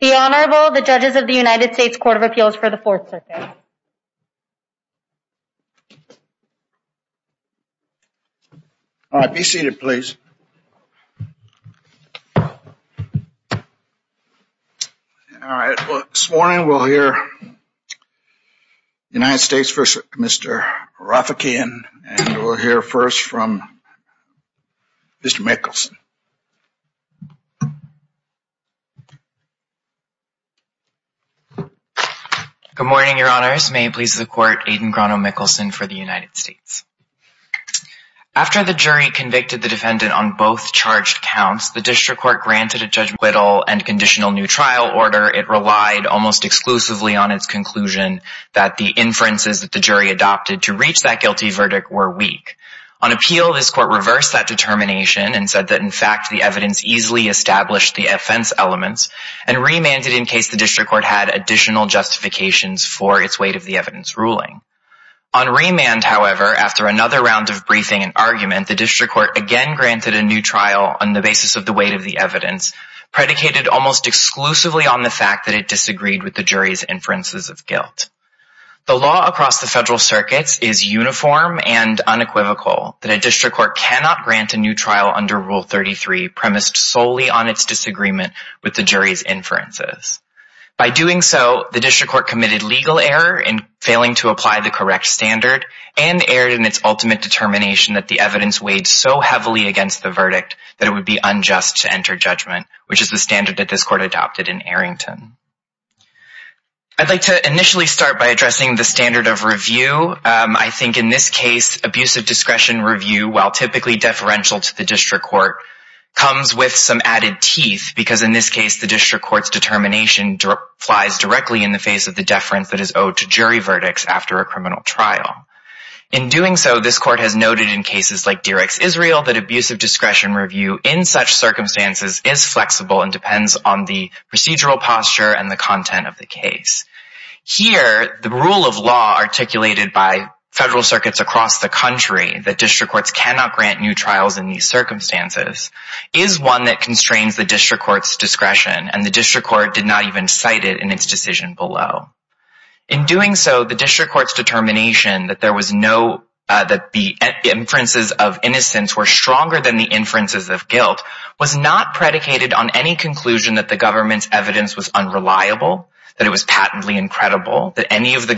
The Honorable, the Judges of the United States Court of Appeals for the Fourth Circuit. All right, be seated, please. All right, well, this morning we'll hear the United States v. Mr. Rafiekian, and we'll hear first from Mr. Michelson. Good morning, Your Honors. May it please the Court, Aiden Grano-Michelson for the United States. After the jury convicted the defendant on both charged counts, the district court granted a judgment of acquittal and conditional new trial order. It relied almost exclusively on its conclusion that the inferences that the jury adopted to reach that guilty verdict were weak. On appeal, this court reversed that determination and said that, in fact, the evidence easily established the offense elements, and remanded in case the district court had additional justifications for its weight of the evidence ruling. On remand, however, after another round of briefing and argument, the district court again granted a new trial on the basis of the weight of the evidence, predicated almost exclusively on the fact that it disagreed with the jury's inferences of guilt. The law across the federal circuits is uniform and unequivocal that a district court cannot grant a new trial under Rule 33 premised solely on its disagreement with the jury's inferences. By doing so, the district court committed legal error in failing to apply the correct standard and erred in its ultimate determination that the evidence weighed so heavily against the verdict that it would be unjust to enter judgment, which is the standard that this court adopted in Arrington. I'd like to initially start by addressing the standard of review. I think in this case, abusive discretion review, while typically deferential to the district court, comes with some added teeth because, in this case, the district court's determination flies directly in the face of the deference that is owed to jury verdicts after a criminal trial. In doing so, this court has noted in cases like Derek's Israel that abusive discretion review in such circumstances is flexible and depends on the procedural posture and the content of the case. Here, the rule of law articulated by federal circuits across the country, that district courts cannot grant new trials in these circumstances, is one that constrains the district court's discretion, and the district court did not even cite it in its decision below. In doing so, the district court's determination that the inferences of innocence were stronger than the inferences of guilt was not predicated on any conclusion that the government's evidence was unreliable, that it was patently incredible, that any of the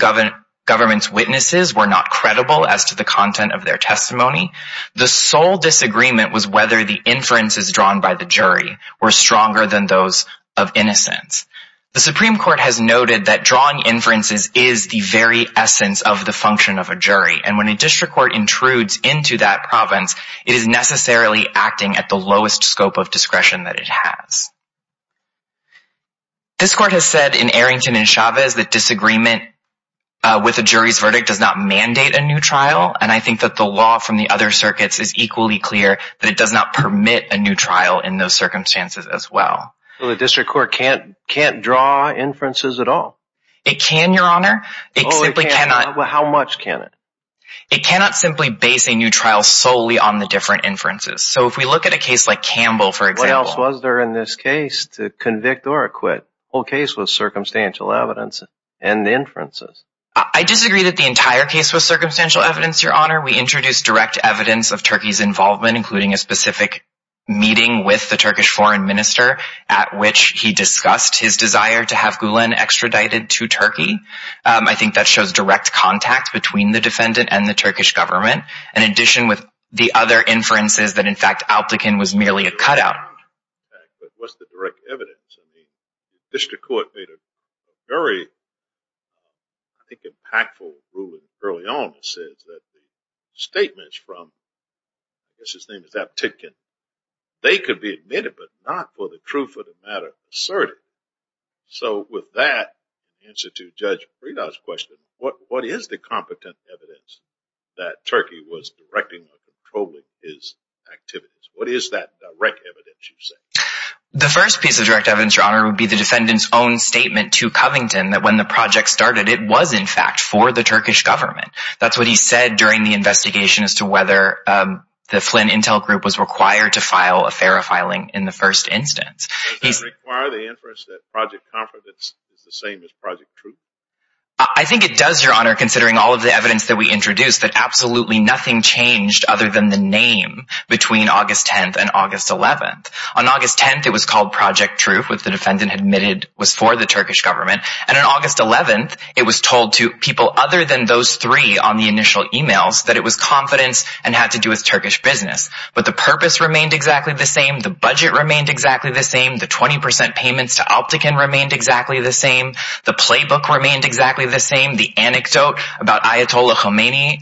government's witnesses were not credible as to the content of their testimony. The sole disagreement was whether the inferences drawn by the jury were stronger than those of innocence. The Supreme Court has noted that drawing inferences is the very essence of the function of a jury, and when a district court intrudes into that province, it is necessarily acting at the lowest scope of discretion that it has. This court has said in Arrington and Chavez that disagreement with a jury's verdict does not mandate a new trial, and I think that the law from the other circuits is equally clear that it does not permit a new trial in those circumstances as well. So the district court can't draw inferences at all? It can, Your Honor. It simply cannot. How much can it? It cannot simply base a new trial solely on the different inferences. So if we look at a case like Campbell, for example. What else was there in this case to convict or acquit? The whole case was circumstantial evidence and inferences. I disagree that the entire case was circumstantial evidence, Your Honor. We introduced direct evidence of Turkey's involvement, including a specific meeting with the Turkish foreign minister, at which he discussed his desire to have Gulen extradited to Turkey. I think that shows direct contact between the defendant and the Turkish government, in addition with the other inferences that, in fact, Aptekin was merely a cutout. But what's the direct evidence? I mean, the district court made a very, I think, impactful ruling early on that says that the statements from, I guess his name is Aptekin, they could be admitted but not for the truth of the matter asserted. So with that answer to Judge Frieda's question, what is the competent evidence that Turkey was directing or controlling his activities? What is that direct evidence, you say? The first piece of direct evidence, Your Honor, would be the defendant's own statement to Covington that when the project started, it was, in fact, for the Turkish government. That's what he said during the investigation as to whether the Flynn Intel Group was required to file a FARA filing in the first instance. Does that require the inference that Project Comfort is the same as Project Truth? I think it does, Your Honor, considering all of the evidence that we introduced, that absolutely nothing changed other than the name between August 10th and August 11th. On August 10th, it was called Project Truth, which the defendant admitted was for the Turkish government. And on August 11th, it was told to people other than those three on the initial e-mails that it was confidence and had to do with Turkish business. But the purpose remained exactly the same. The budget remained exactly the same. The 20% payments to Aptekin remained exactly the same. The playbook remained exactly the same. The anecdote about Ayatollah Khomeini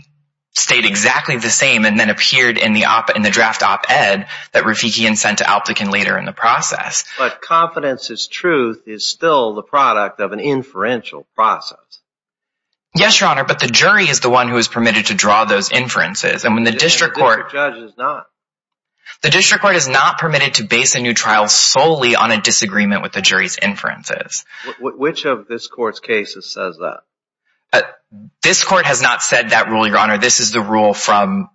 stayed exactly the same and then appeared in the draft op-ed that Rafikian sent to Aptekin later in the process. But confidence is truth is still the product of an inferential process. Yes, Your Honor, but the jury is the one who is permitted to draw those inferences. The district court is not. The district court is not permitted to base a new trial solely on a disagreement with the jury's inferences. Which of this court's cases says that? This court has not said that rule, Your Honor. This is the rule from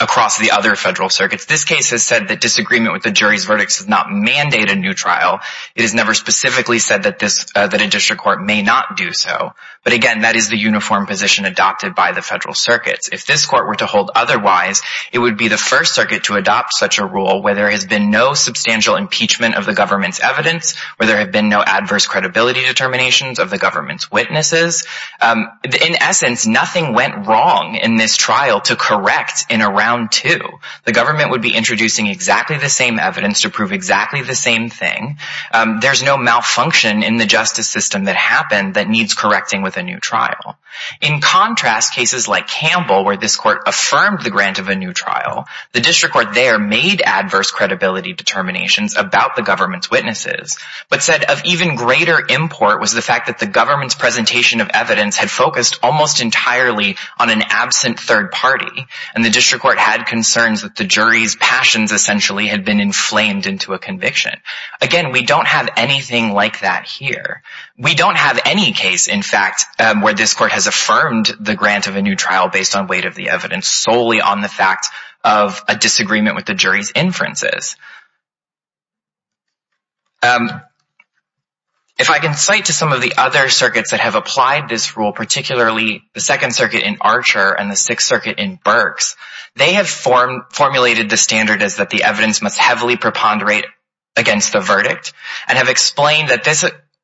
across the other federal circuits. This case has said that disagreement with the jury's verdicts does not mandate a new trial. It has never specifically said that a district court may not do so. But, again, that is the uniform position adopted by the federal circuits. If this court were to hold otherwise, it would be the first circuit to adopt such a rule where there has been no substantial impeachment of the government's evidence, where there have been no adverse credibility determinations of the government's witnesses. In essence, nothing went wrong in this trial to correct in a round two. The government would be introducing exactly the same evidence to prove exactly the same thing. There's no malfunction in the justice system that happened that needs correcting with a new trial. In contrast, cases like Campbell, where this court affirmed the grant of a new trial, the district court there made adverse credibility determinations about the government's witnesses, but said of even greater import was the fact that the government's presentation of evidence had focused almost entirely on an absent third party. And the district court had concerns that the jury's passions essentially had been inflamed into a conviction. Again, we don't have anything like that here. We don't have any case, in fact, where this court has affirmed the grant of a new trial based on weight of the evidence, solely on the fact of a disagreement with the jury's inferences. If I can cite to some of the other circuits that have applied this rule, particularly the Second Circuit in Archer and the Sixth Circuit in Burks, they have formulated the standard as that the evidence must heavily preponderate against the verdict and have explained that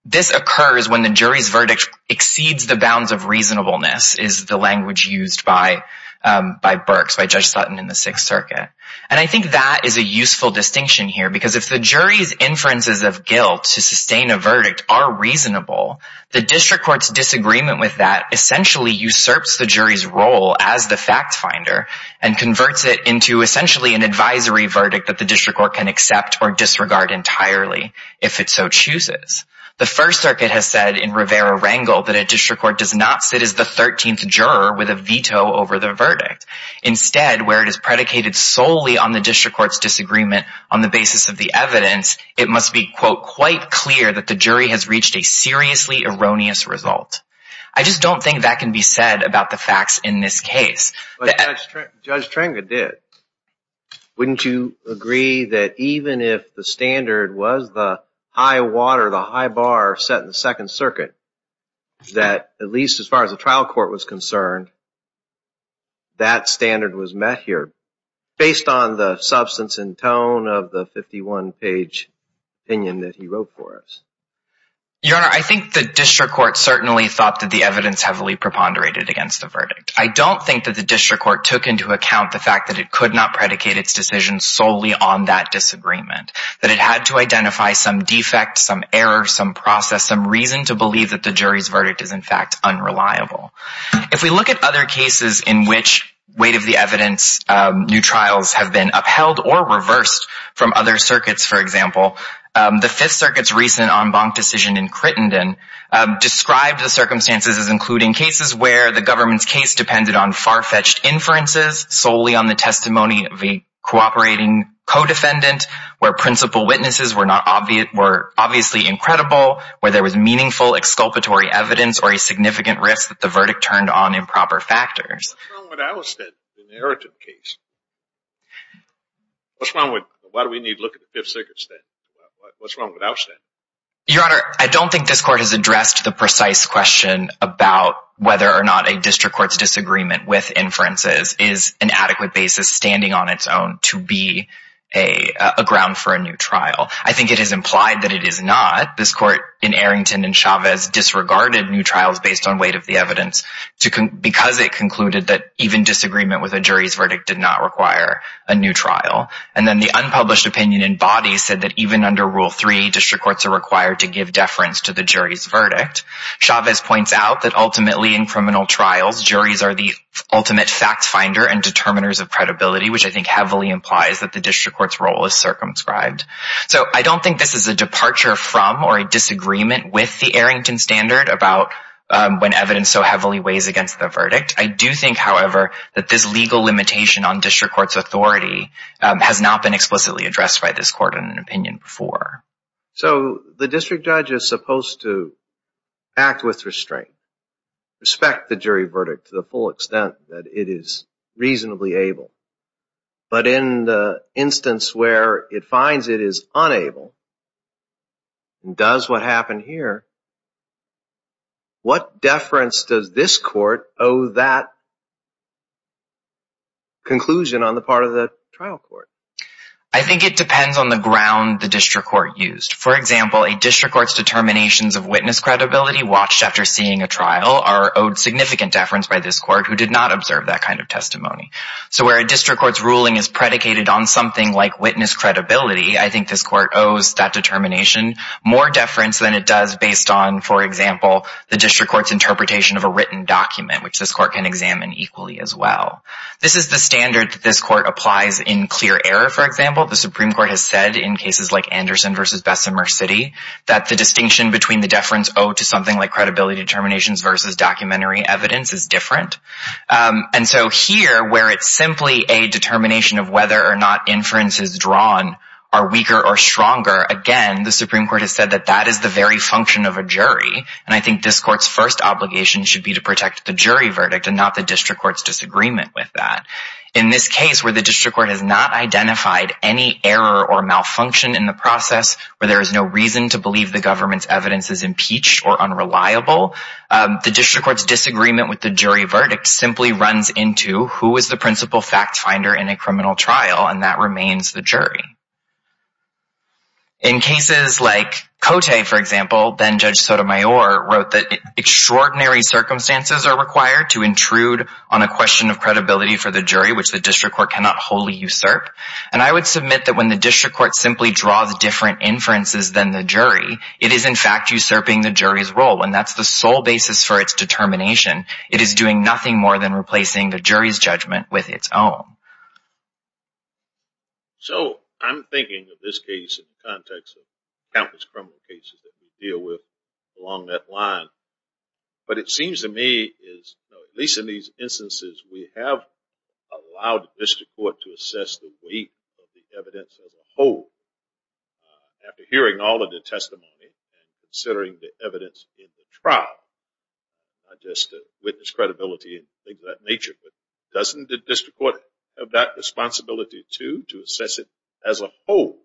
this occurs when the jury's verdict exceeds the bounds of reasonableness, is the language used by Burks, by Judge Sutton in the Sixth Circuit. And I think that is a useful distinction here because if the jury's inferences of guilt to sustain a verdict are reasonable, the district court's disagreement with that essentially usurps the jury's role as the fact finder and converts it into essentially an advisory verdict that the district court can accept or disregard entirely if it so chooses. The First Circuit has said in Rivera-Rangel that a district court does not sit as the 13th juror with a veto over the verdict. Instead, where it is predicated solely on the district court's disagreement on the basis of the evidence, it must be, quote, quite clear that the jury has reached a seriously erroneous result. I just don't think that can be said about the facts in this case. Judge Trenga did. Wouldn't you agree that even if the standard was the high water, the high bar set in the Second Circuit, that at least as far as the trial court was concerned, that standard was met here based on the substance and tone of the 51-page opinion that he wrote for us? Your Honor, I think the district court certainly thought that the evidence heavily preponderated against the verdict. I don't think that the district court took into account the fact that it could not predicate its decision solely on that disagreement, that it had to identify some defect, some error, some process, some reason to believe that the jury's verdict is, in fact, unreliable. If we look at other cases in which weight of the evidence, new trials have been upheld or reversed from other circuits, for example, the Fifth Circuit's recent en banc decision in Crittenden described the circumstances as including cases where the government's case depended on far-fetched inferences solely on the testimony of a cooperating co-defendant, where principal witnesses were obviously incredible, where there was meaningful exculpatory evidence or a significant risk that the verdict turned on improper factors. What's wrong with our state, the inheritance case? Why do we need to look at the Fifth Circuit's state? What's wrong with our state? Your Honor, I don't think this court has addressed the precise question about whether or not a district court's disagreement with inferences is an adequate basis standing on its own to be a ground for a new trial. I think it is implied that it is not. This court in Arrington and Chavez disregarded new trials based on weight of the evidence because it concluded that even disagreement with a jury's verdict did not require a new trial. And then the unpublished opinion in body said that even under Rule 3, district courts are required to give deference to the jury's verdict. Chavez points out that ultimately in criminal trials, juries are the ultimate fact finder and determiners of credibility, which I think heavily implies that the district court's role is circumscribed. So I don't think this is a departure from or a disagreement with the Arrington Standard about when evidence so heavily weighs against the verdict. I do think, however, that this legal limitation on district court's authority has not been explicitly addressed by this court in an opinion before. So the district judge is supposed to act with restraint, respect the jury verdict to the full extent that it is reasonably able. But in the instance where it finds it is unable and does what happened here, what deference does this court owe that conclusion on the part of the trial court? I think it depends on the ground the district court used. For example, a district court's determinations of witness credibility watched after seeing a trial are owed significant deference by this court who did not observe that kind of testimony. So where a district court's ruling is predicated on something like witness credibility, I think this court owes that determination more deference than it does based on, for example, the district court's interpretation of a written document, which this court can examine equally as well. This is the standard that this court applies in clear error, for example. The Supreme Court has said in cases like Anderson v. Bessemer City that the distinction between the deference owed to something like credibility determinations versus documentary evidence is different. And so here, where it's simply a determination of whether or not inferences drawn are weaker or stronger, again, the Supreme Court has said that that is the very function of a jury. And I think this court's first obligation should be to protect the jury verdict and not the district court's disagreement with that. In this case, where the district court has not identified any error or malfunction in the process, where there is no reason to believe the government's evidence is impeached or unreliable, the district court's disagreement with the jury verdict simply runs into who is the principal fact finder in a criminal trial, and that remains the jury. In cases like Cote, for example, then Judge Sotomayor wrote that extraordinary circumstances are required to intrude on a question of credibility for the jury, which the district court cannot wholly usurp. And I would submit that when the district court simply draws different inferences than the jury, it is in fact usurping the jury's role, and that's the sole basis for its determination. It is doing nothing more than replacing the jury's judgment with its own. So I'm thinking of this case in the context of countless criminal cases that we deal with along that line, but it seems to me, at least in these instances, we have allowed the district court to assess the weight of the evidence as a whole. After hearing all of the testimony and considering the evidence in the trial, not just witness credibility and things of that nature, but doesn't the district court have that responsibility, too, to assess it as a whole?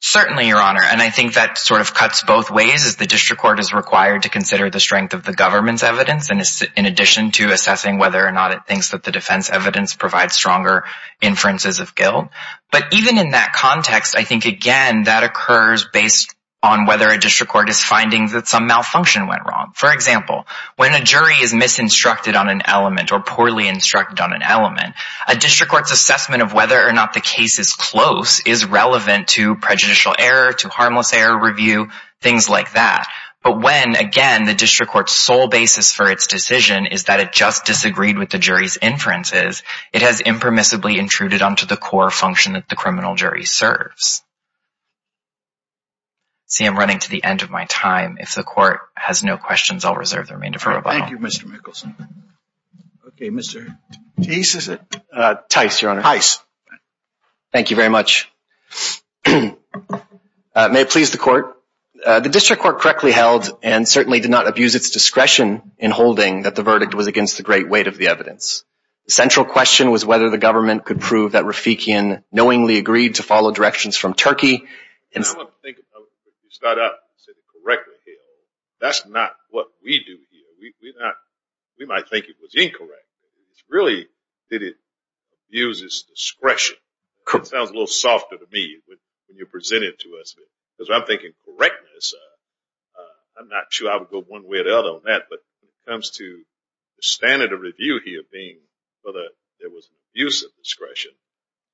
Certainly, Your Honor, and I think that sort of cuts both ways, as the district court is required to consider the strength of the government's evidence in addition to assessing whether or not it thinks that the defense evidence provides stronger inferences of guilt. But even in that context, I think, again, that occurs based on whether a district court is finding that some malfunction went wrong. For example, when a jury is misinstructed on an element or poorly instructed on an element, a district court's assessment of whether or not the case is close is relevant to prejudicial error, to harmless error review, things like that. But when, again, the district court's sole basis for its decision is that it just disagreed with the jury's inferences, it has impermissibly intruded onto the core function that the criminal jury serves. See, I'm running to the end of my time. If the court has no questions, I'll reserve the remainder for rebuttal. Thank you, Mr. Mickelson. Okay, Mr. Teiss, is it? Teiss, Your Honor. Teiss. Thank you very much. May it please the court? The district court correctly held and certainly did not abuse its discretion in holding that the verdict was against the great weight of the evidence. The central question was whether the government could prove that Rafikian knowingly agreed to follow directions from Turkey. If you start out and say they correctly held, that's not what we do here. We might think it was incorrect. It's really that it abuses discretion. It sounds a little softer to me when you present it to us. Because I'm thinking correctness, I'm not sure I would go one way or the other on that. But when it comes to the standard of review here being whether there was an abuse of discretion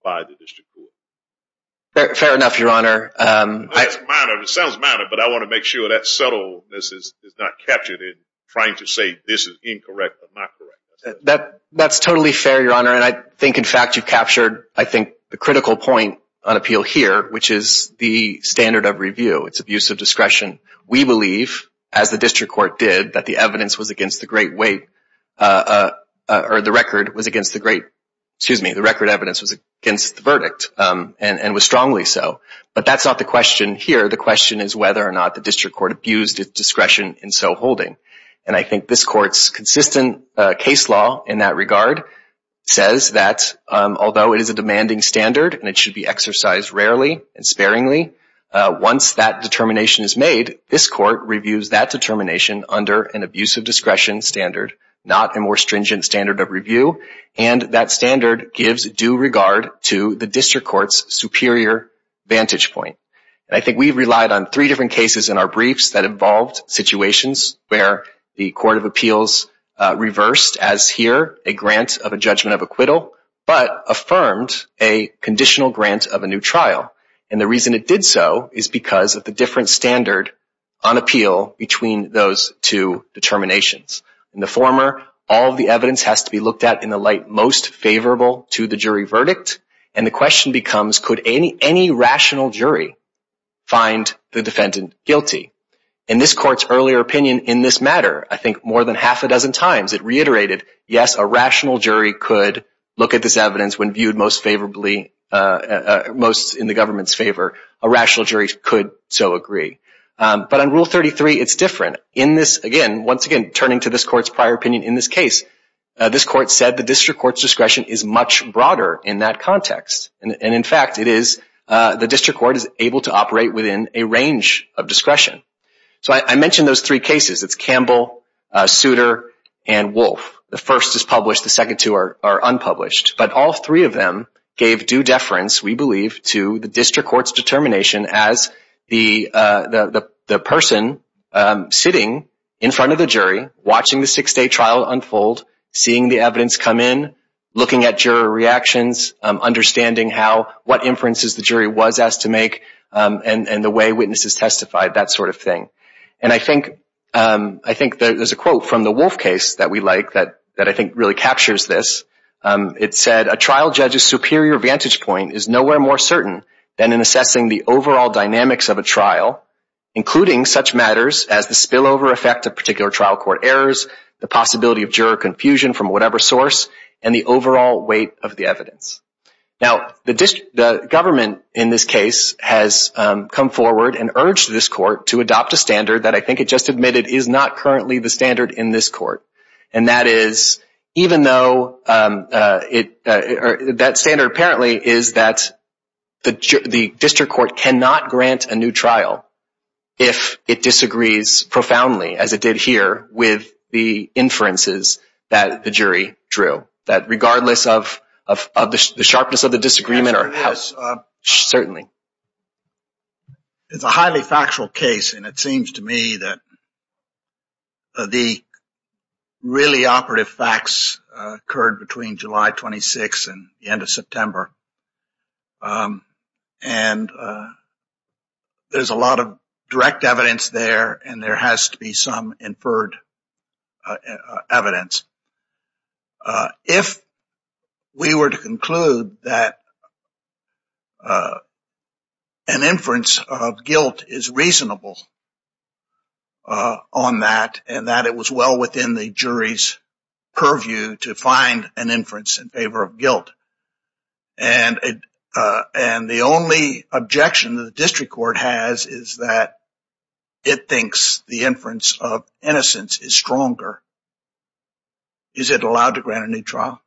by the district court. Fair enough, Your Honor. It's minor. It sounds minor. But I want to make sure that subtleness is not captured in trying to say this is incorrect or not correct. That's totally fair, Your Honor. And I think, in fact, you've captured, I think, the critical point on appeal here, which is the standard of review. It's abuse of discretion. We believe, as the district court did, that the evidence was against the great weight or the record was against the great, excuse me, the record evidence was against the verdict and was strongly so. But that's not the question here. The question is whether or not the district court abused its discretion in so holding. And I think this court's consistent case law in that regard says that although it is a demanding standard and it should be exercised rarely and sparingly, once that determination is made, this court reviews that determination under an abuse of discretion standard, not a more stringent standard of review. And that standard gives due regard to the district court's superior vantage point. And I think we've relied on three different cases in our briefs that involved situations where the court of appeals reversed, as here, a grant of a judgment of acquittal, but affirmed a conditional grant of a new trial. And the reason it did so is because of the different standard on appeal between those two determinations. In the former, all of the evidence has to be looked at in the light most favorable to the jury verdict. And the question becomes, could any rational jury find the defendant guilty? And this court's earlier opinion in this matter, I think more than half a dozen times, it reiterated, yes, a rational jury could look at this evidence when viewed most favorably, most in the government's favor. A rational jury could so agree. But on Rule 33, it's different. In this, again, once again, turning to this court's prior opinion in this case, this court said the district court's discretion is much broader in that context. And, in fact, it is the district court is able to operate within a range of discretion. So I mentioned those three cases. It's Campbell, Souter, and Wolf. The first is published. The second two are unpublished. But all three of them gave due deference, we believe, to the district court's determination as the person sitting in front of the jury, trial unfold, seeing the evidence come in, looking at juror reactions, understanding what inferences the jury was asked to make, and the way witnesses testified, that sort of thing. And I think there's a quote from the Wolf case that we like that I think really captures this. It said, a trial judge's superior vantage point is nowhere more certain than in assessing the overall dynamics of a trial, including such matters as the spillover effect of particular trial court errors, the possibility of juror confusion from whatever source, and the overall weight of the evidence. Now, the government in this case has come forward and urged this court to adopt a standard that I think it just admitted is not currently the standard in this court. And that is, even though that standard apparently is that the district court cannot grant a new trial if it disagrees profoundly, as it did here, with the inferences that the jury drew, that regardless of the sharpness of the disagreement or how. Certainly. It's a highly factual case, and it seems to me that the really operative facts occurred between July 26 and the end of September. And there's a lot of direct evidence there, and there has to be some inferred evidence. If we were to conclude that an inference of guilt is reasonable on that, and that it was well within the jury's purview to find an inference in favor of guilt, and the only objection that the district court has is that it thinks the inference of innocence is stronger, is it allowed to grant a new trial?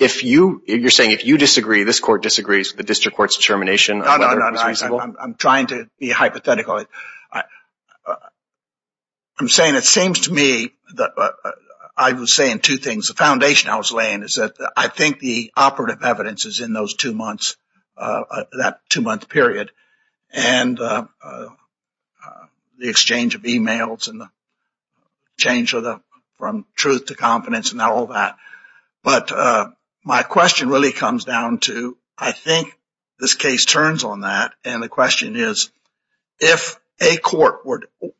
If you're saying if you disagree, this court disagrees with the district court's determination of whether it was reasonable? No, no, no. I'm trying to be hypothetical. I'm saying it seems to me that I was saying two things. The foundation I was laying is that I think the operative evidence is in those two months, that two-month period, and the exchange of emails and the change from truth to confidence and all that. But my question really comes down to, I think this case turns on that, and the question is, if a court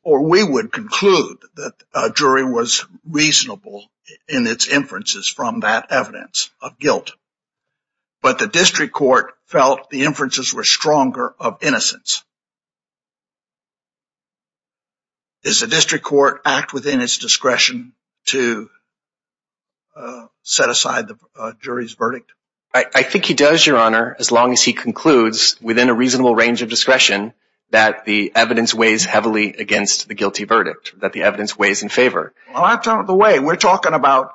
or we would conclude that a jury was reasonable in its inferences from that evidence of guilt, but the district court felt the inferences were stronger of innocence, does the district court act within its discretion to set aside the jury's verdict? I think he does, Your Honor, as long as he concludes within a reasonable range of discretion that the evidence weighs heavily against the guilty verdict, that the evidence weighs in favor. Well, I've done it the way. We're talking about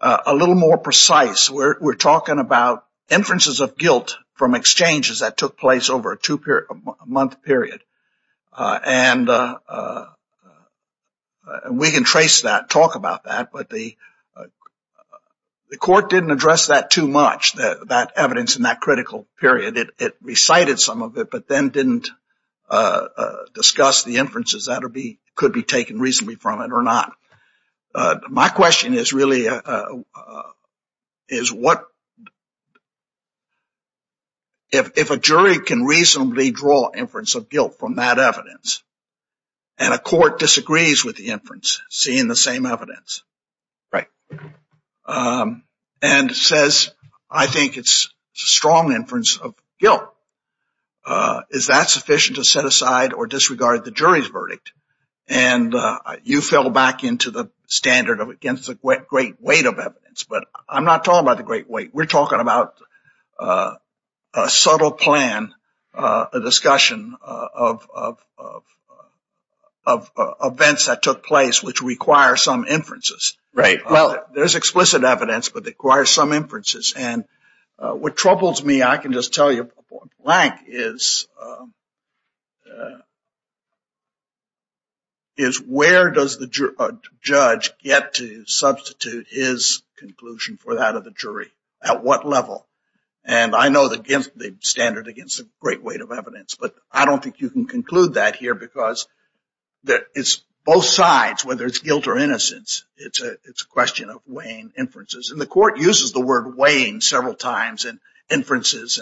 a little more precise. We're talking about inferences of guilt from exchanges that took place over a two-month period. And we can trace that, talk about that. But the court didn't address that too much, that evidence in that critical period. It recited some of it, but then didn't discuss the inferences that could be taken reasonably from it or not. My question is really, if a jury can reasonably draw inference of guilt from that evidence and a court disagrees with the inference, seeing the same evidence, and says, I think it's a strong inference of guilt, is that sufficient to set aside or disregard the jury's verdict? And you fell back into the standard of against the great weight of evidence. But I'm not talking about the great weight. We're talking about a subtle plan, a discussion of events that took place which require some inferences. Right. Well, there's explicit evidence, but it requires some inferences. And what troubles me, I can just tell you, is where does the judge get to substitute his conclusion for that of the jury? At what level? And I know the standard against the great weight of evidence. But I don't think you can conclude that here because it's both sides, whether it's guilt or innocence. It's a question of weighing inferences. And the court uses the word weighing several times in inferences.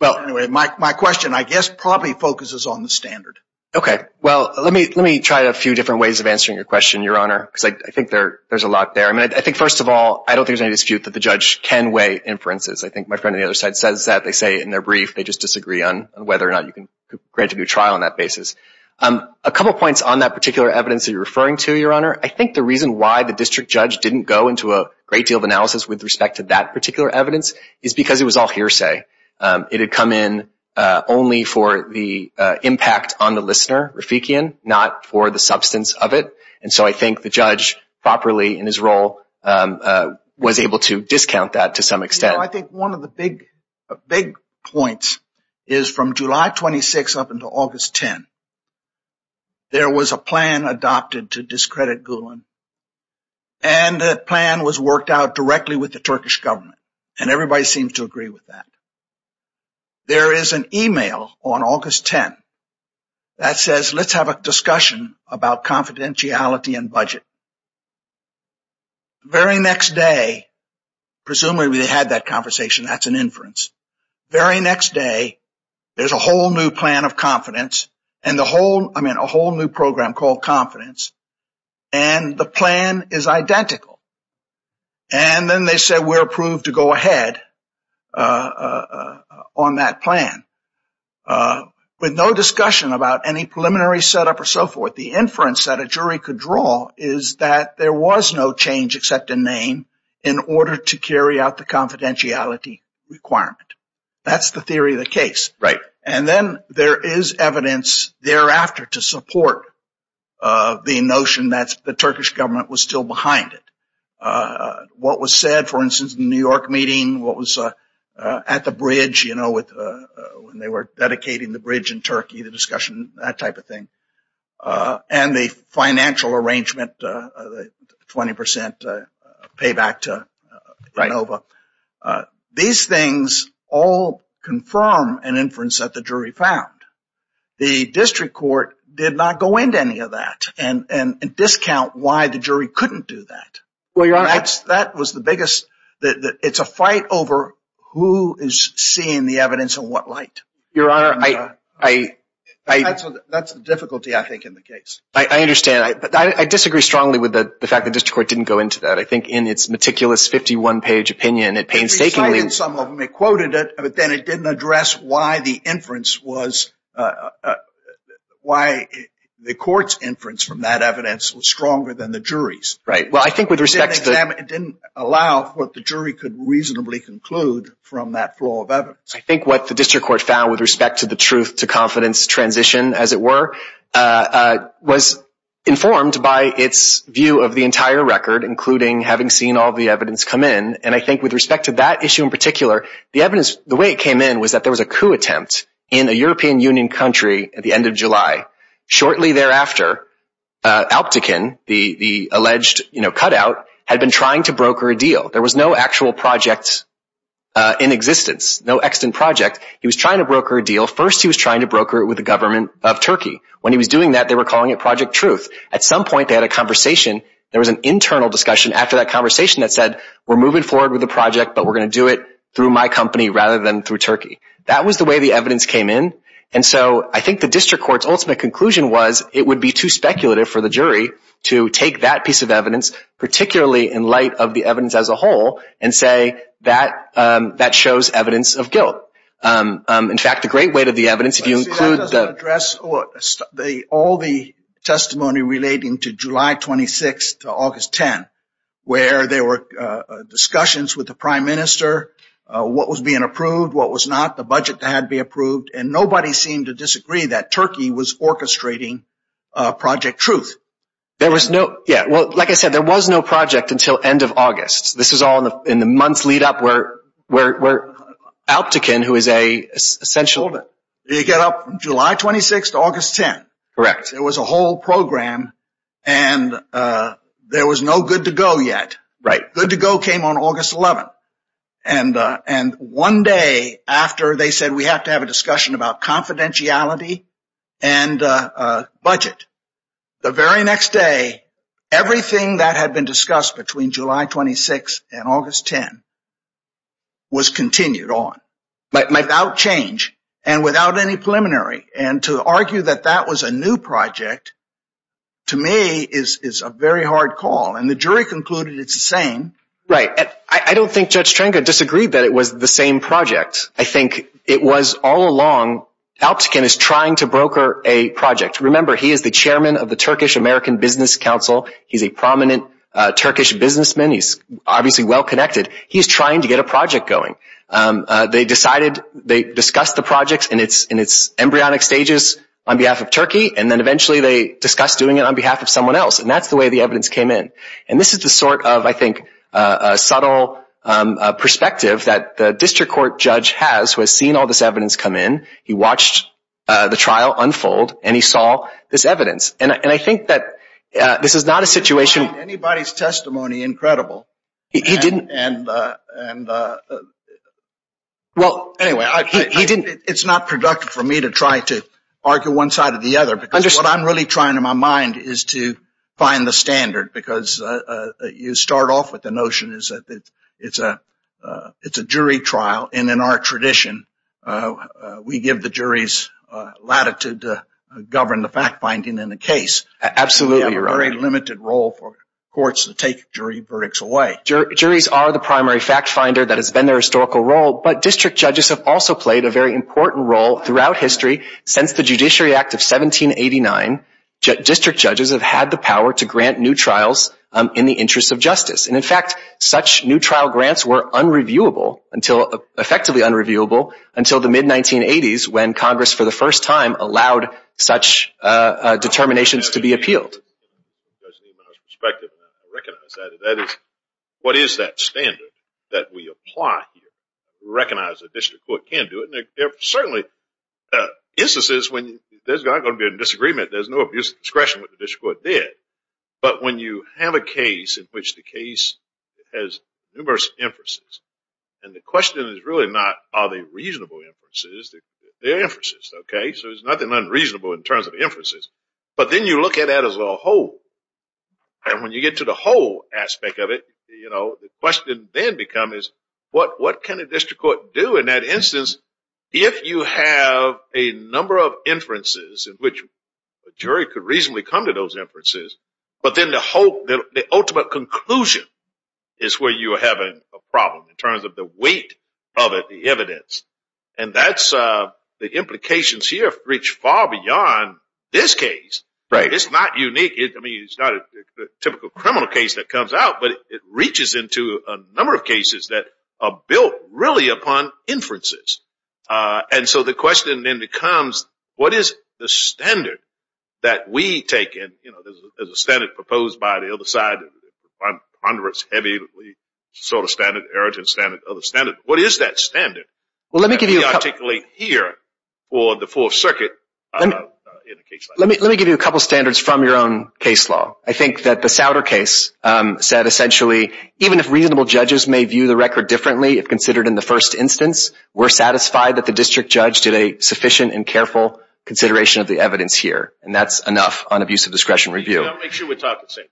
Well, anyway, my question, I guess, probably focuses on the standard. Okay. Well, let me try a few different ways of answering your question, Your Honor, because I think there's a lot there. I think, first of all, I don't think there's any dispute that the judge can weigh inferences. I think my friend on the other side says that. They say in their brief they just disagree on whether or not you can grant a new trial on that basis. A couple points on that particular evidence that you're referring to, Your Honor. I think the reason why the district judge didn't go into a great deal of analysis with respect to that particular evidence is because it was all hearsay. It had come in only for the impact on the listener, Rafikian, not for the substance of it. And so I think the judge properly in his role was able to discount that to some extent. Well, I think one of the big points is from July 26 up until August 10, there was a plan adopted to discredit Gulen. And that plan was worked out directly with the Turkish government. And everybody seems to agree with that. There is an email on August 10 that says, let's have a discussion about confidentiality and budget. Very next day, presumably they had that conversation. That's an inference. Very next day, there's a whole new plan of confidence and a whole new program called confidence. And the plan is identical. And then they said, we're approved to go ahead on that plan with no discussion about any preliminary setup or so forth. But the inference that a jury could draw is that there was no change except a name in order to carry out the confidentiality requirement. That's the theory of the case. And then there is evidence thereafter to support the notion that the Turkish government was still behind it. What was said, for instance, in the New York meeting, what was at the bridge, you know, when they were dedicating the bridge in Turkey, the discussion, that type of thing. And the financial arrangement, the 20% payback to Inova. These things all confirm an inference that the jury found. The district court did not go into any of that and discount why the jury couldn't do that. That was the biggest. It's a fight over who is seeing the evidence and what light. Your Honor, I. That's the difficulty, I think, in the case. I understand. I disagree strongly with the fact the district court didn't go into that. I think in its meticulous 51-page opinion, it painstakingly. They cited some of them. They quoted it. But then it didn't address why the inference was, why the court's inference from that evidence was stronger than the jury's. Right. Well, I think with respect to. It didn't allow what the jury could reasonably conclude from that flow of evidence. I think what the district court found with respect to the truth to confidence transition, as it were, was informed by its view of the entire record, including having seen all the evidence come in. And I think with respect to that issue in particular, the evidence, the way it came in was that there was a coup attempt in a European Union country at the end of July. Shortly thereafter, Alptekin, the alleged cutout, had been trying to broker a deal. There was no actual project in existence, no extant project. He was trying to broker a deal. First, he was trying to broker it with the government of Turkey. When he was doing that, they were calling it Project Truth. At some point, they had a conversation. There was an internal discussion after that conversation that said, we're moving forward with the project, but we're going to do it through my company rather than through Turkey. That was the way the evidence came in. And so I think the district court's ultimate conclusion was it would be too speculative for the jury to take that piece of evidence, particularly in light of the evidence as a whole, and say that shows evidence of guilt. In fact, the great weight of the evidence, if you include the- Nobody seemed to disagree that Turkey was orchestrating Project Truth. Like I said, there was no project until end of August. This is all in the months lead up where Alptekin, who is an essential- You get up from July 26 to August 10. There was a whole program, and there was no good to go yet. Good to go came on August 11. And one day after, they said, we have to have a discussion about confidentiality and budget. The very next day, everything that had been discussed between July 26 and August 10 was continued on without change and without any preliminary. And to argue that that was a new project, to me, is a very hard call. And the jury concluded it's the same. Right. I don't think Judge Trenka disagreed that it was the same project. I think it was all along, Alptekin is trying to broker a project. Remember, he is the chairman of the Turkish American Business Council. He's a prominent Turkish businessman. He's obviously well-connected. He's trying to get a project going. They decided, they discussed the project in its embryonic stages on behalf of Turkey, and then eventually they discussed doing it on behalf of someone else. And that's the way the evidence came in. And this is the sort of, I think, subtle perspective that the district court judge has, who has seen all this evidence come in. He watched the trial unfold, and he saw this evidence. And I think that this is not a situation. He didn't find anybody's testimony incredible. He didn't. And, well, anyway, he didn't. It's not productive for me to try to argue one side or the other. What I'm really trying in my mind is to find the standard, because you start off with the notion that it's a jury trial. And in our tradition, we give the juries latitude to govern the fact-finding in the case. Absolutely right. We have a very limited role for courts to take jury verdicts away. Juries are the primary fact-finder that has been their historical role. But district judges have also played a very important role throughout history. Since the Judiciary Act of 1789, district judges have had the power to grant new trials in the interest of justice. And, in fact, such new trial grants were unreviewable, effectively unreviewable, until the mid-1980s when Congress, for the first time, allowed such determinations to be appealed. I recognize that. That is, what is that standard that we apply here? We recognize the district court can do it. And there are certainly instances when there's not going to be a disagreement. There's no abuse of discretion, which the district court did. But when you have a case in which the case has numerous inferences, and the question is really not are they reasonable inferences. They're inferences, okay? So there's nothing unreasonable in terms of inferences. But then you look at that as a whole. And when you get to the whole aspect of it, the question then becomes what can a district court do in that instance if you have a number of inferences in which a jury could reasonably come to those inferences, but then the ultimate conclusion is where you are having a problem in terms of the weight of the evidence. And that's the implications here reach far beyond this case. Right. It's not unique. I mean, it's not a typical criminal case that comes out, but it reaches into a number of cases that are built really upon inferences. And so the question then becomes what is the standard that we take? And, you know, there's a standard proposed by the other side. It's heavy. It's a sort of standard, inheritance standard, other standard. What is that standard that we articulate here for the Fourth Circuit in a case like this? Let me give you a couple of standards from your own case law. I think that the Souder case said essentially even if reasonable judges may view the record differently if considered in the first instance, we're satisfied that the district judge did a sufficient and careful consideration of the evidence here. And that's enough on abuse of discretion review. I want to make sure we're talking the same thing.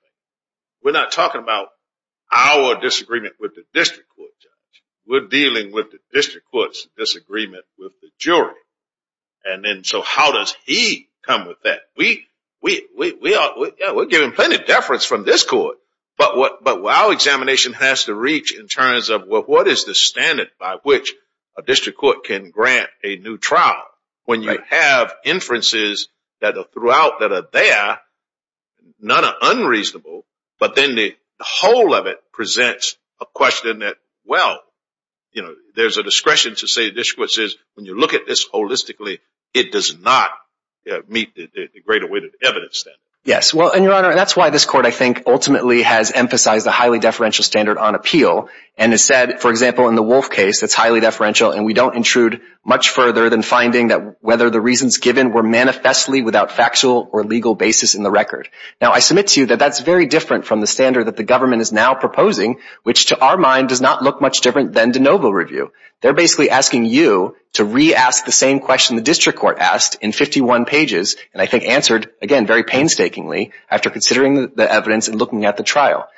We're not talking about our disagreement with the district court judge. We're dealing with the district court's disagreement with the jury. And then so how does he come with that? We're giving plenty of deference from this court. But what our examination has to reach in terms of what is the standard by which a district court can grant a new trial? When you have inferences that are throughout, that are there, none are unreasonable, but then the whole of it presents a question that, well, you know, there's a discretion to say a district court says, when you look at this holistically, it does not meet the greater weight of evidence there. Yes. Well, and, Your Honor, that's why this court I think ultimately has emphasized a highly deferential standard on appeal. And has said, for example, in the Wolf case, it's highly deferential, and we don't intrude much further than finding that whether the reasons given were manifestly without factual or legal basis in the record. Now, I submit to you that that's very different from the standard that the government is now proposing, which to our mind does not look much different than de novo review. They're basically asking you to re-ask the same question the district court asked in 51 pages, and I think answered, again, very painstakingly after considering the evidence and looking at the trial.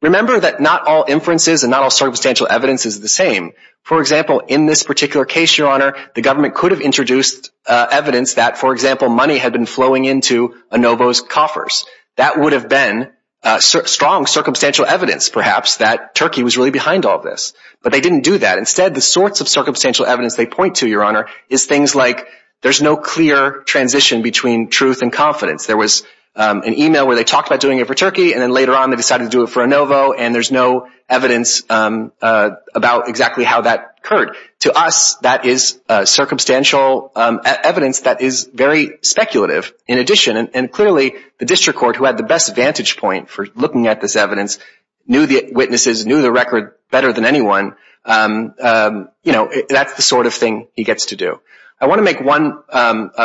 Remember that not all inferences and not all circumstantial evidence is the same. For example, in this particular case, Your Honor, the government could have introduced evidence that, for example, money had been flowing into Anovo's coffers. That would have been strong circumstantial evidence, perhaps, that Turkey was really behind all this. But they didn't do that. Instead, the sorts of circumstantial evidence they point to, Your Honor, is things like there's no clear transition between truth and confidence. There was an email where they talked about doing it for Turkey, and then later on they decided to do it for Anovo, and there's no evidence about exactly how that occurred. To us, that is circumstantial evidence that is very speculative in addition, and clearly the district court, who had the best vantage point for looking at this evidence, knew the witnesses, knew the record better than anyone. You know, that's the sort of thing he gets to do. I want to make one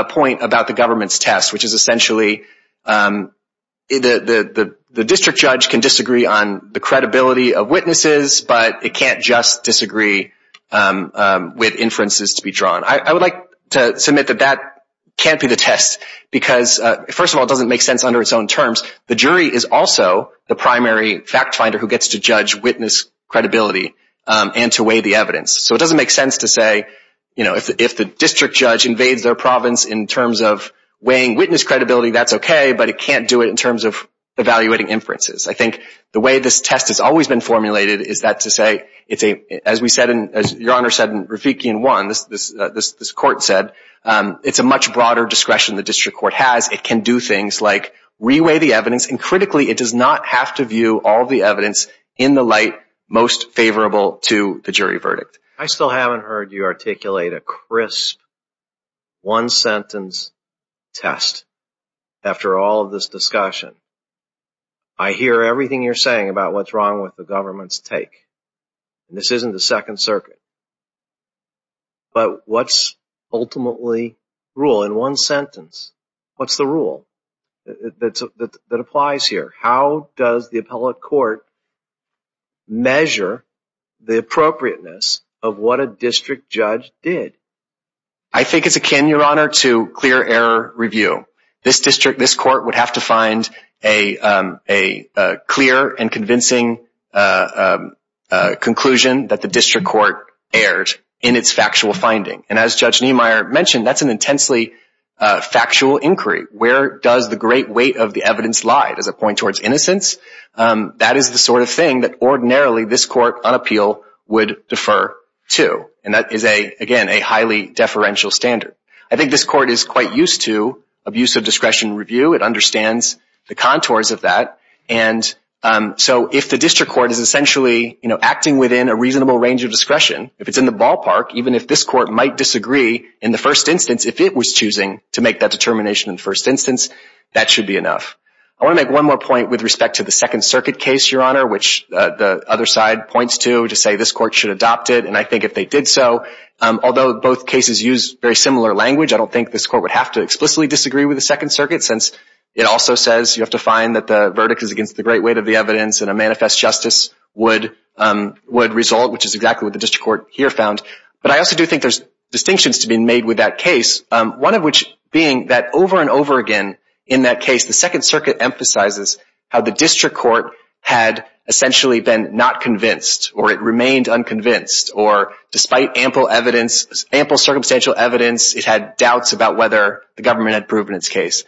point about the government's test, which is essentially the district judge can disagree on the credibility of witnesses, but it can't just disagree with inferences to be drawn. I would like to submit that that can't be the test because, first of all, it doesn't make sense under its own terms. The jury is also the primary fact finder who gets to judge witness credibility and to weigh the evidence. So it doesn't make sense to say, you know, if the district judge invades their province in terms of weighing witness credibility, that's okay, but it can't do it in terms of evaluating inferences. I think the way this test has always been formulated is that to say, as Your Honor said in Ravikian 1, this court said, it's a much broader discretion the district court has. It can do things like re-weigh the evidence, and critically, it does not have to view all the evidence in the light most favorable to the jury verdict. I still haven't heard you articulate a crisp one-sentence test after all of this discussion. I hear everything you're saying about what's wrong with the government's take. This isn't the Second Circuit. But what's ultimately rule? In one sentence, what's the rule that applies here? How does the appellate court measure the appropriateness of what a district judge did? I think it's akin, Your Honor, to clear error review. This court would have to find a clear and convincing conclusion that the district court erred in its factual finding. And as Judge Niemeyer mentioned, that's an intensely factual inquiry. Where does the great weight of the evidence lie? Does it point towards innocence? That is the sort of thing that ordinarily this court on appeal would defer to. And that is, again, a highly deferential standard. I think this court is quite used to abuse of discretion review. It understands the contours of that. And so if the district court is essentially, you know, acting within a reasonable range of discretion, if it's in the ballpark, even if this court might disagree in the first instance, if it was choosing to make that determination in the first instance, that should be enough. I want to make one more point with respect to the Second Circuit case, Your Honor, which the other side points to to say this court should adopt it. And I think if they did so, although both cases use very similar language, I don't think this court would have to explicitly disagree with the Second Circuit, since it also says you have to find that the verdict is against the great weight of the evidence and a manifest justice would result, which is exactly what the district court here found. But I also do think there's distinctions to be made with that case, one of which being that over and over again in that case the Second Circuit emphasizes how the district court had essentially been not convinced, or it remained unconvinced, or despite ample evidence, ample circumstantial evidence, it had doubts about whether the government had proven its case.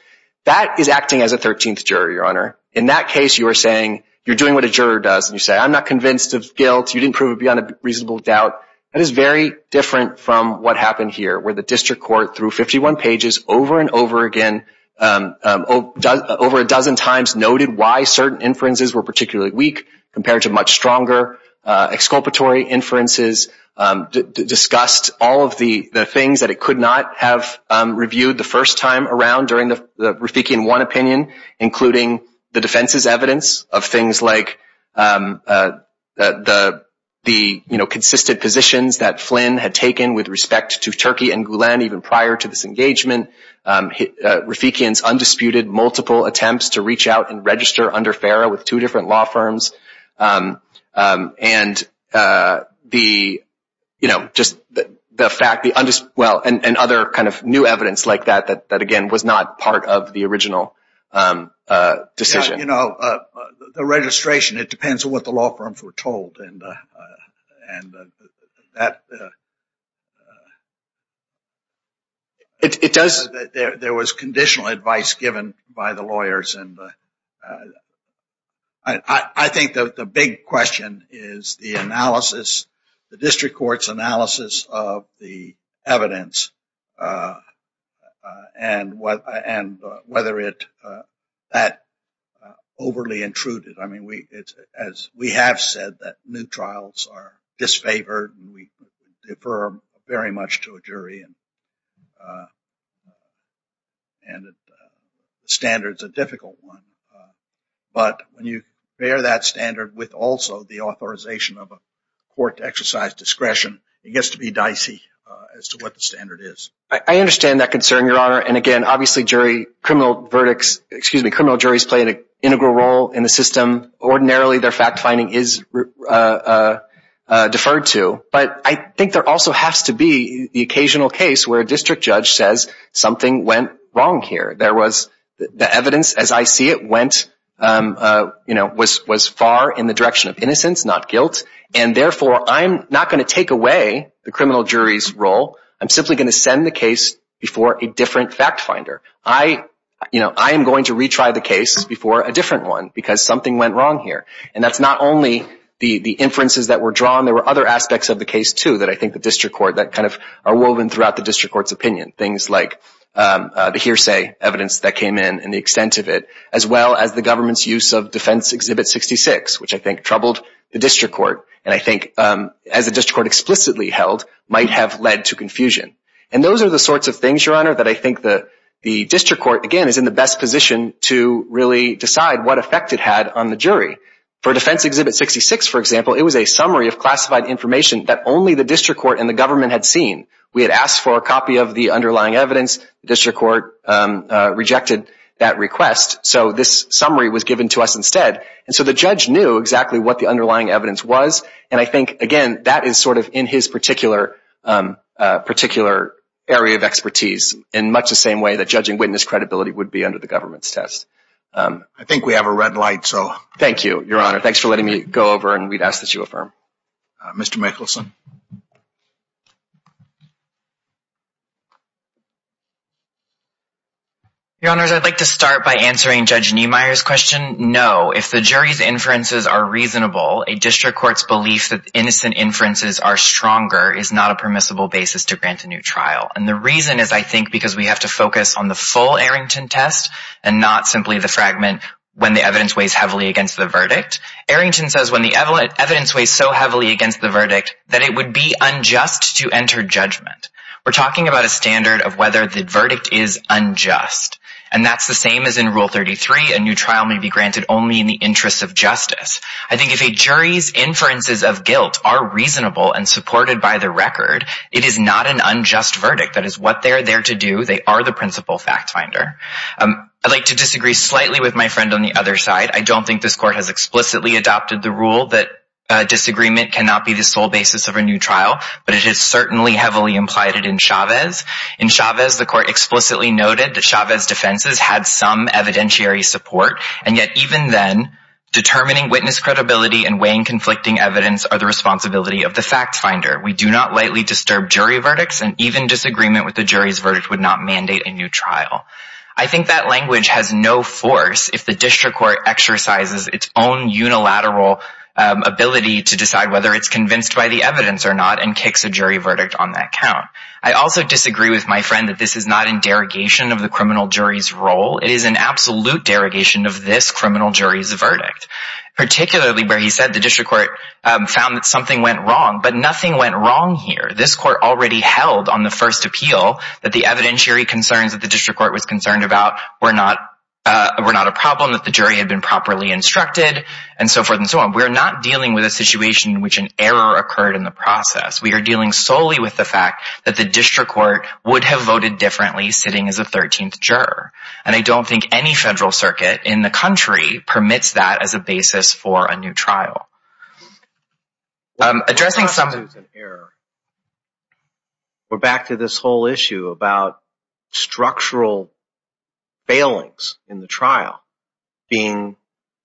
That is acting as a 13th juror, Your Honor. In that case you are saying you're doing what a juror does, and you say I'm not convinced of guilt, you didn't prove it beyond a reasonable doubt. That is very different from what happened here, where the district court through 51 pages over and over again, over a dozen times noted why certain inferences were particularly weak compared to much stronger exculpatory inferences, discussed all of the things that it could not have reviewed the first time around during the Rafiki in one opinion, including the defense's evidence of things like the consistent positions that Flynn had taken with respect to Turkey and Gulen, even prior to this engagement. Rafikians undisputed multiple attempts to reach out and register under FARA with two different law firms, and other new evidence like that, that again was not part of the original decision. The registration, it depends on what the law firms were told. There was conditional advice given by the lawyers. I think the big question is the analysis, the district court's analysis of the evidence, and whether that overly intruded. I mean, as we have said that new trials are disfavored, and we defer very much to a jury, and the standard is a difficult one. But when you bear that standard with also the authorization of a court exercise discretion, it gets to be dicey as to what the standard is. I understand that concern, Your Honor. And again, obviously criminal juries play an integral role in the system. Ordinarily, their fact-finding is deferred to. But I think there also has to be the occasional case where a district judge says something went wrong here. The evidence, as I see it, was far in the direction of innocence, not guilt. And therefore, I'm not going to take away the criminal jury's role. I'm simply going to send the case before a different fact-finder. I am going to retry the case before a different one because something went wrong here. And that's not only the inferences that were drawn. There were other aspects of the case, too, that I think the district court, that kind of are woven throughout the district court's opinion, things like the hearsay evidence that came in and the extent of it, as well as the government's use of Defense Exhibit 66, which I think troubled the district court, and I think as the district court explicitly held, might have led to confusion. And those are the sorts of things, Your Honor, that I think the district court, again, is in the best position to really decide what effect it had on the jury. For Defense Exhibit 66, for example, it was a summary of classified information that only the district court and the government had seen. We had asked for a copy of the underlying evidence. The district court rejected that request. So this summary was given to us instead. And so the judge knew exactly what the underlying evidence was, and I think, again, that is sort of in his particular area of expertise in much the same way that judging witness credibility would be under the government's test. I think we have a red light, so. Thank you, Your Honor. Thanks for letting me go over, and we'd ask that you affirm. Mr. Michelson. Your Honors, I'd like to start by answering Judge Niemeyer's question. No, if the jury's inferences are reasonable, a district court's belief that innocent inferences are stronger is not a permissible basis to grant a new trial. And the reason is, I think, because we have to focus on the full Arrington test and not simply the fragment when the evidence weighs heavily against the verdict. Arrington says when the evidence weighs so heavily against the verdict that it would be unjust to enter judgment. We're talking about a standard of whether the verdict is unjust, and that's the same as in Rule 33. A new trial may be granted only in the interest of justice. I think if a jury's inferences of guilt are reasonable and supported by the record, it is not an unjust verdict. That is what they're there to do. They are the principal fact finder. I'd like to disagree slightly with my friend on the other side. I don't think this court has explicitly adopted the rule that disagreement cannot be the sole basis of a new trial, but it is certainly heavily implied it in Chavez. In Chavez, the court explicitly noted that Chavez's defenses had some evidentiary support, and yet even then, determining witness credibility and weighing conflicting evidence are the responsibility of the fact finder. We do not lightly disturb jury verdicts, and even disagreement with the jury's verdict would not mandate a new trial. I think that language has no force if the district court exercises its own unilateral ability to decide whether it's convinced by the evidence or not and kicks a jury verdict on that count. I also disagree with my friend that this is not in derogation of the criminal jury's role. It is an absolute derogation of this criminal jury's verdict, particularly where he said the district court found that something went wrong, but nothing went wrong here. This court already held on the first appeal that the evidentiary concerns that the district court was concerned about were not a problem, that the jury had been properly instructed, and so forth and so on. We're not dealing with a situation in which an error occurred in the process. We are dealing solely with the fact that the district court would have voted differently sitting as a 13th juror, and I don't think any federal circuit in the country permits that as a basis for a new trial. Addressing some... We're back to this whole issue about structural failings in the trial being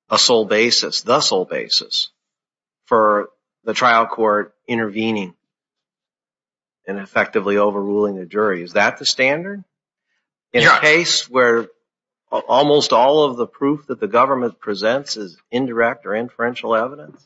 a sole basis, the sole basis, for the trial court intervening and effectively overruling the jury. Is that the standard? In a case where almost all of the proof that the government presents is indirect or inferential evidence?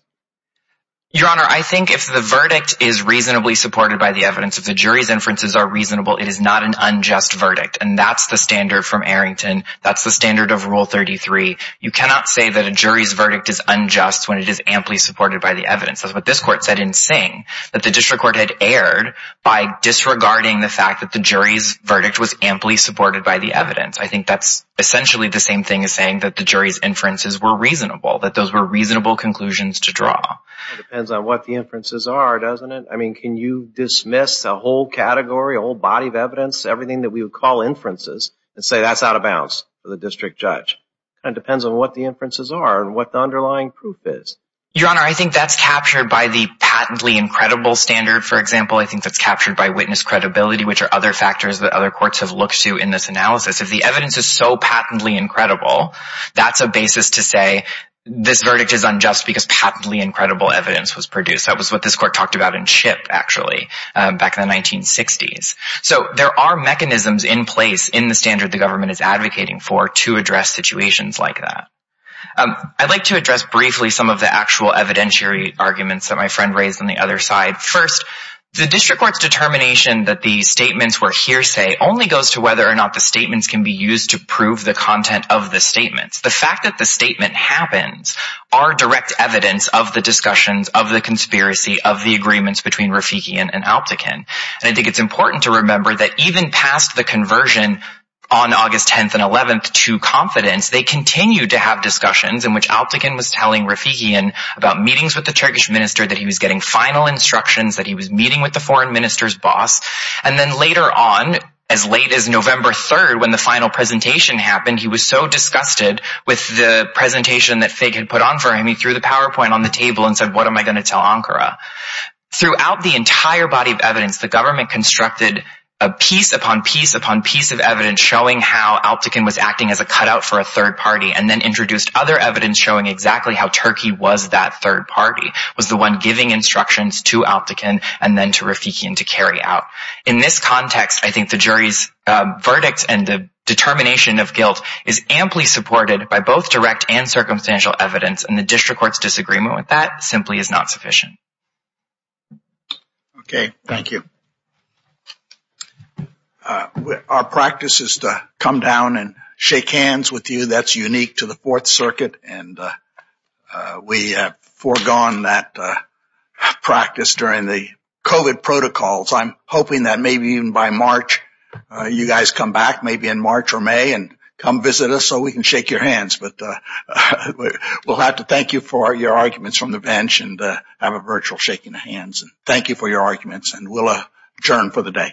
Your Honor, I think if the verdict is reasonably supported by the evidence, if the jury's inferences are reasonable, it is not an unjust verdict, and that's the standard from Arrington, that's the standard of Rule 33. You cannot say that a jury's verdict is unjust when it is amply supported by the evidence. That's what this court said in Singh, that the district court had erred by disregarding the fact that the jury's verdict was amply supported by the evidence. I think that's essentially the same thing as saying that the jury's inferences were reasonable, that those were reasonable conclusions to draw. It depends on what the inferences are, doesn't it? Everything that we would call inferences and say that's out of bounds for the district judge. It depends on what the inferences are and what the underlying proof is. Your Honor, I think that's captured by the patently incredible standard, for example. I think that's captured by witness credibility, which are other factors that other courts have looked to in this analysis. If the evidence is so patently incredible, that's a basis to say this verdict is unjust because patently incredible evidence was produced. That was what this court talked about in Chip, actually, back in the 1960s. There are mechanisms in place in the standard the government is advocating for to address situations like that. I'd like to address briefly some of the actual evidentiary arguments that my friend raised on the other side. First, the district court's determination that the statements were hearsay only goes to whether or not the statements can be used to prove the content of the statements. The fact that the statement happens are direct evidence of the discussions, of the conspiracy, of the agreements between Rafiki and Alptekin. I think it's important to remember that even past the conversion on August 10th and 11th to confidence, they continued to have discussions in which Alptekin was telling Rafiki about meetings with the Turkish minister, that he was getting final instructions, that he was meeting with the foreign minister's boss. Then later on, as late as November 3rd, when the final presentation happened, he was so disgusted with the presentation that Fig had put on for him, he threw the PowerPoint on the table and said, what am I going to tell Ankara? Throughout the entire body of evidence, the government constructed piece upon piece upon piece of evidence showing how Alptekin was acting as a cutout for a third party, and then introduced other evidence showing exactly how Turkey was that third party, was the one giving instructions to Alptekin and then to Rafiki to carry out. In this context, I think the jury's verdict and the determination of guilt is amply supported by both direct and circumstantial evidence, and the district court's disagreement with that simply is not sufficient. Okay, thank you. Our practice is to come down and shake hands with you. That's unique to the Fourth Circuit, and we have foregone that practice during the COVID protocols. I'm hoping that maybe even by March, you guys come back, maybe in March or May, and come visit us so we can shake your hands. But we'll have to thank you for your arguments from the bench and have a virtual shaking of hands. Thank you for your arguments, and we'll adjourn for the day.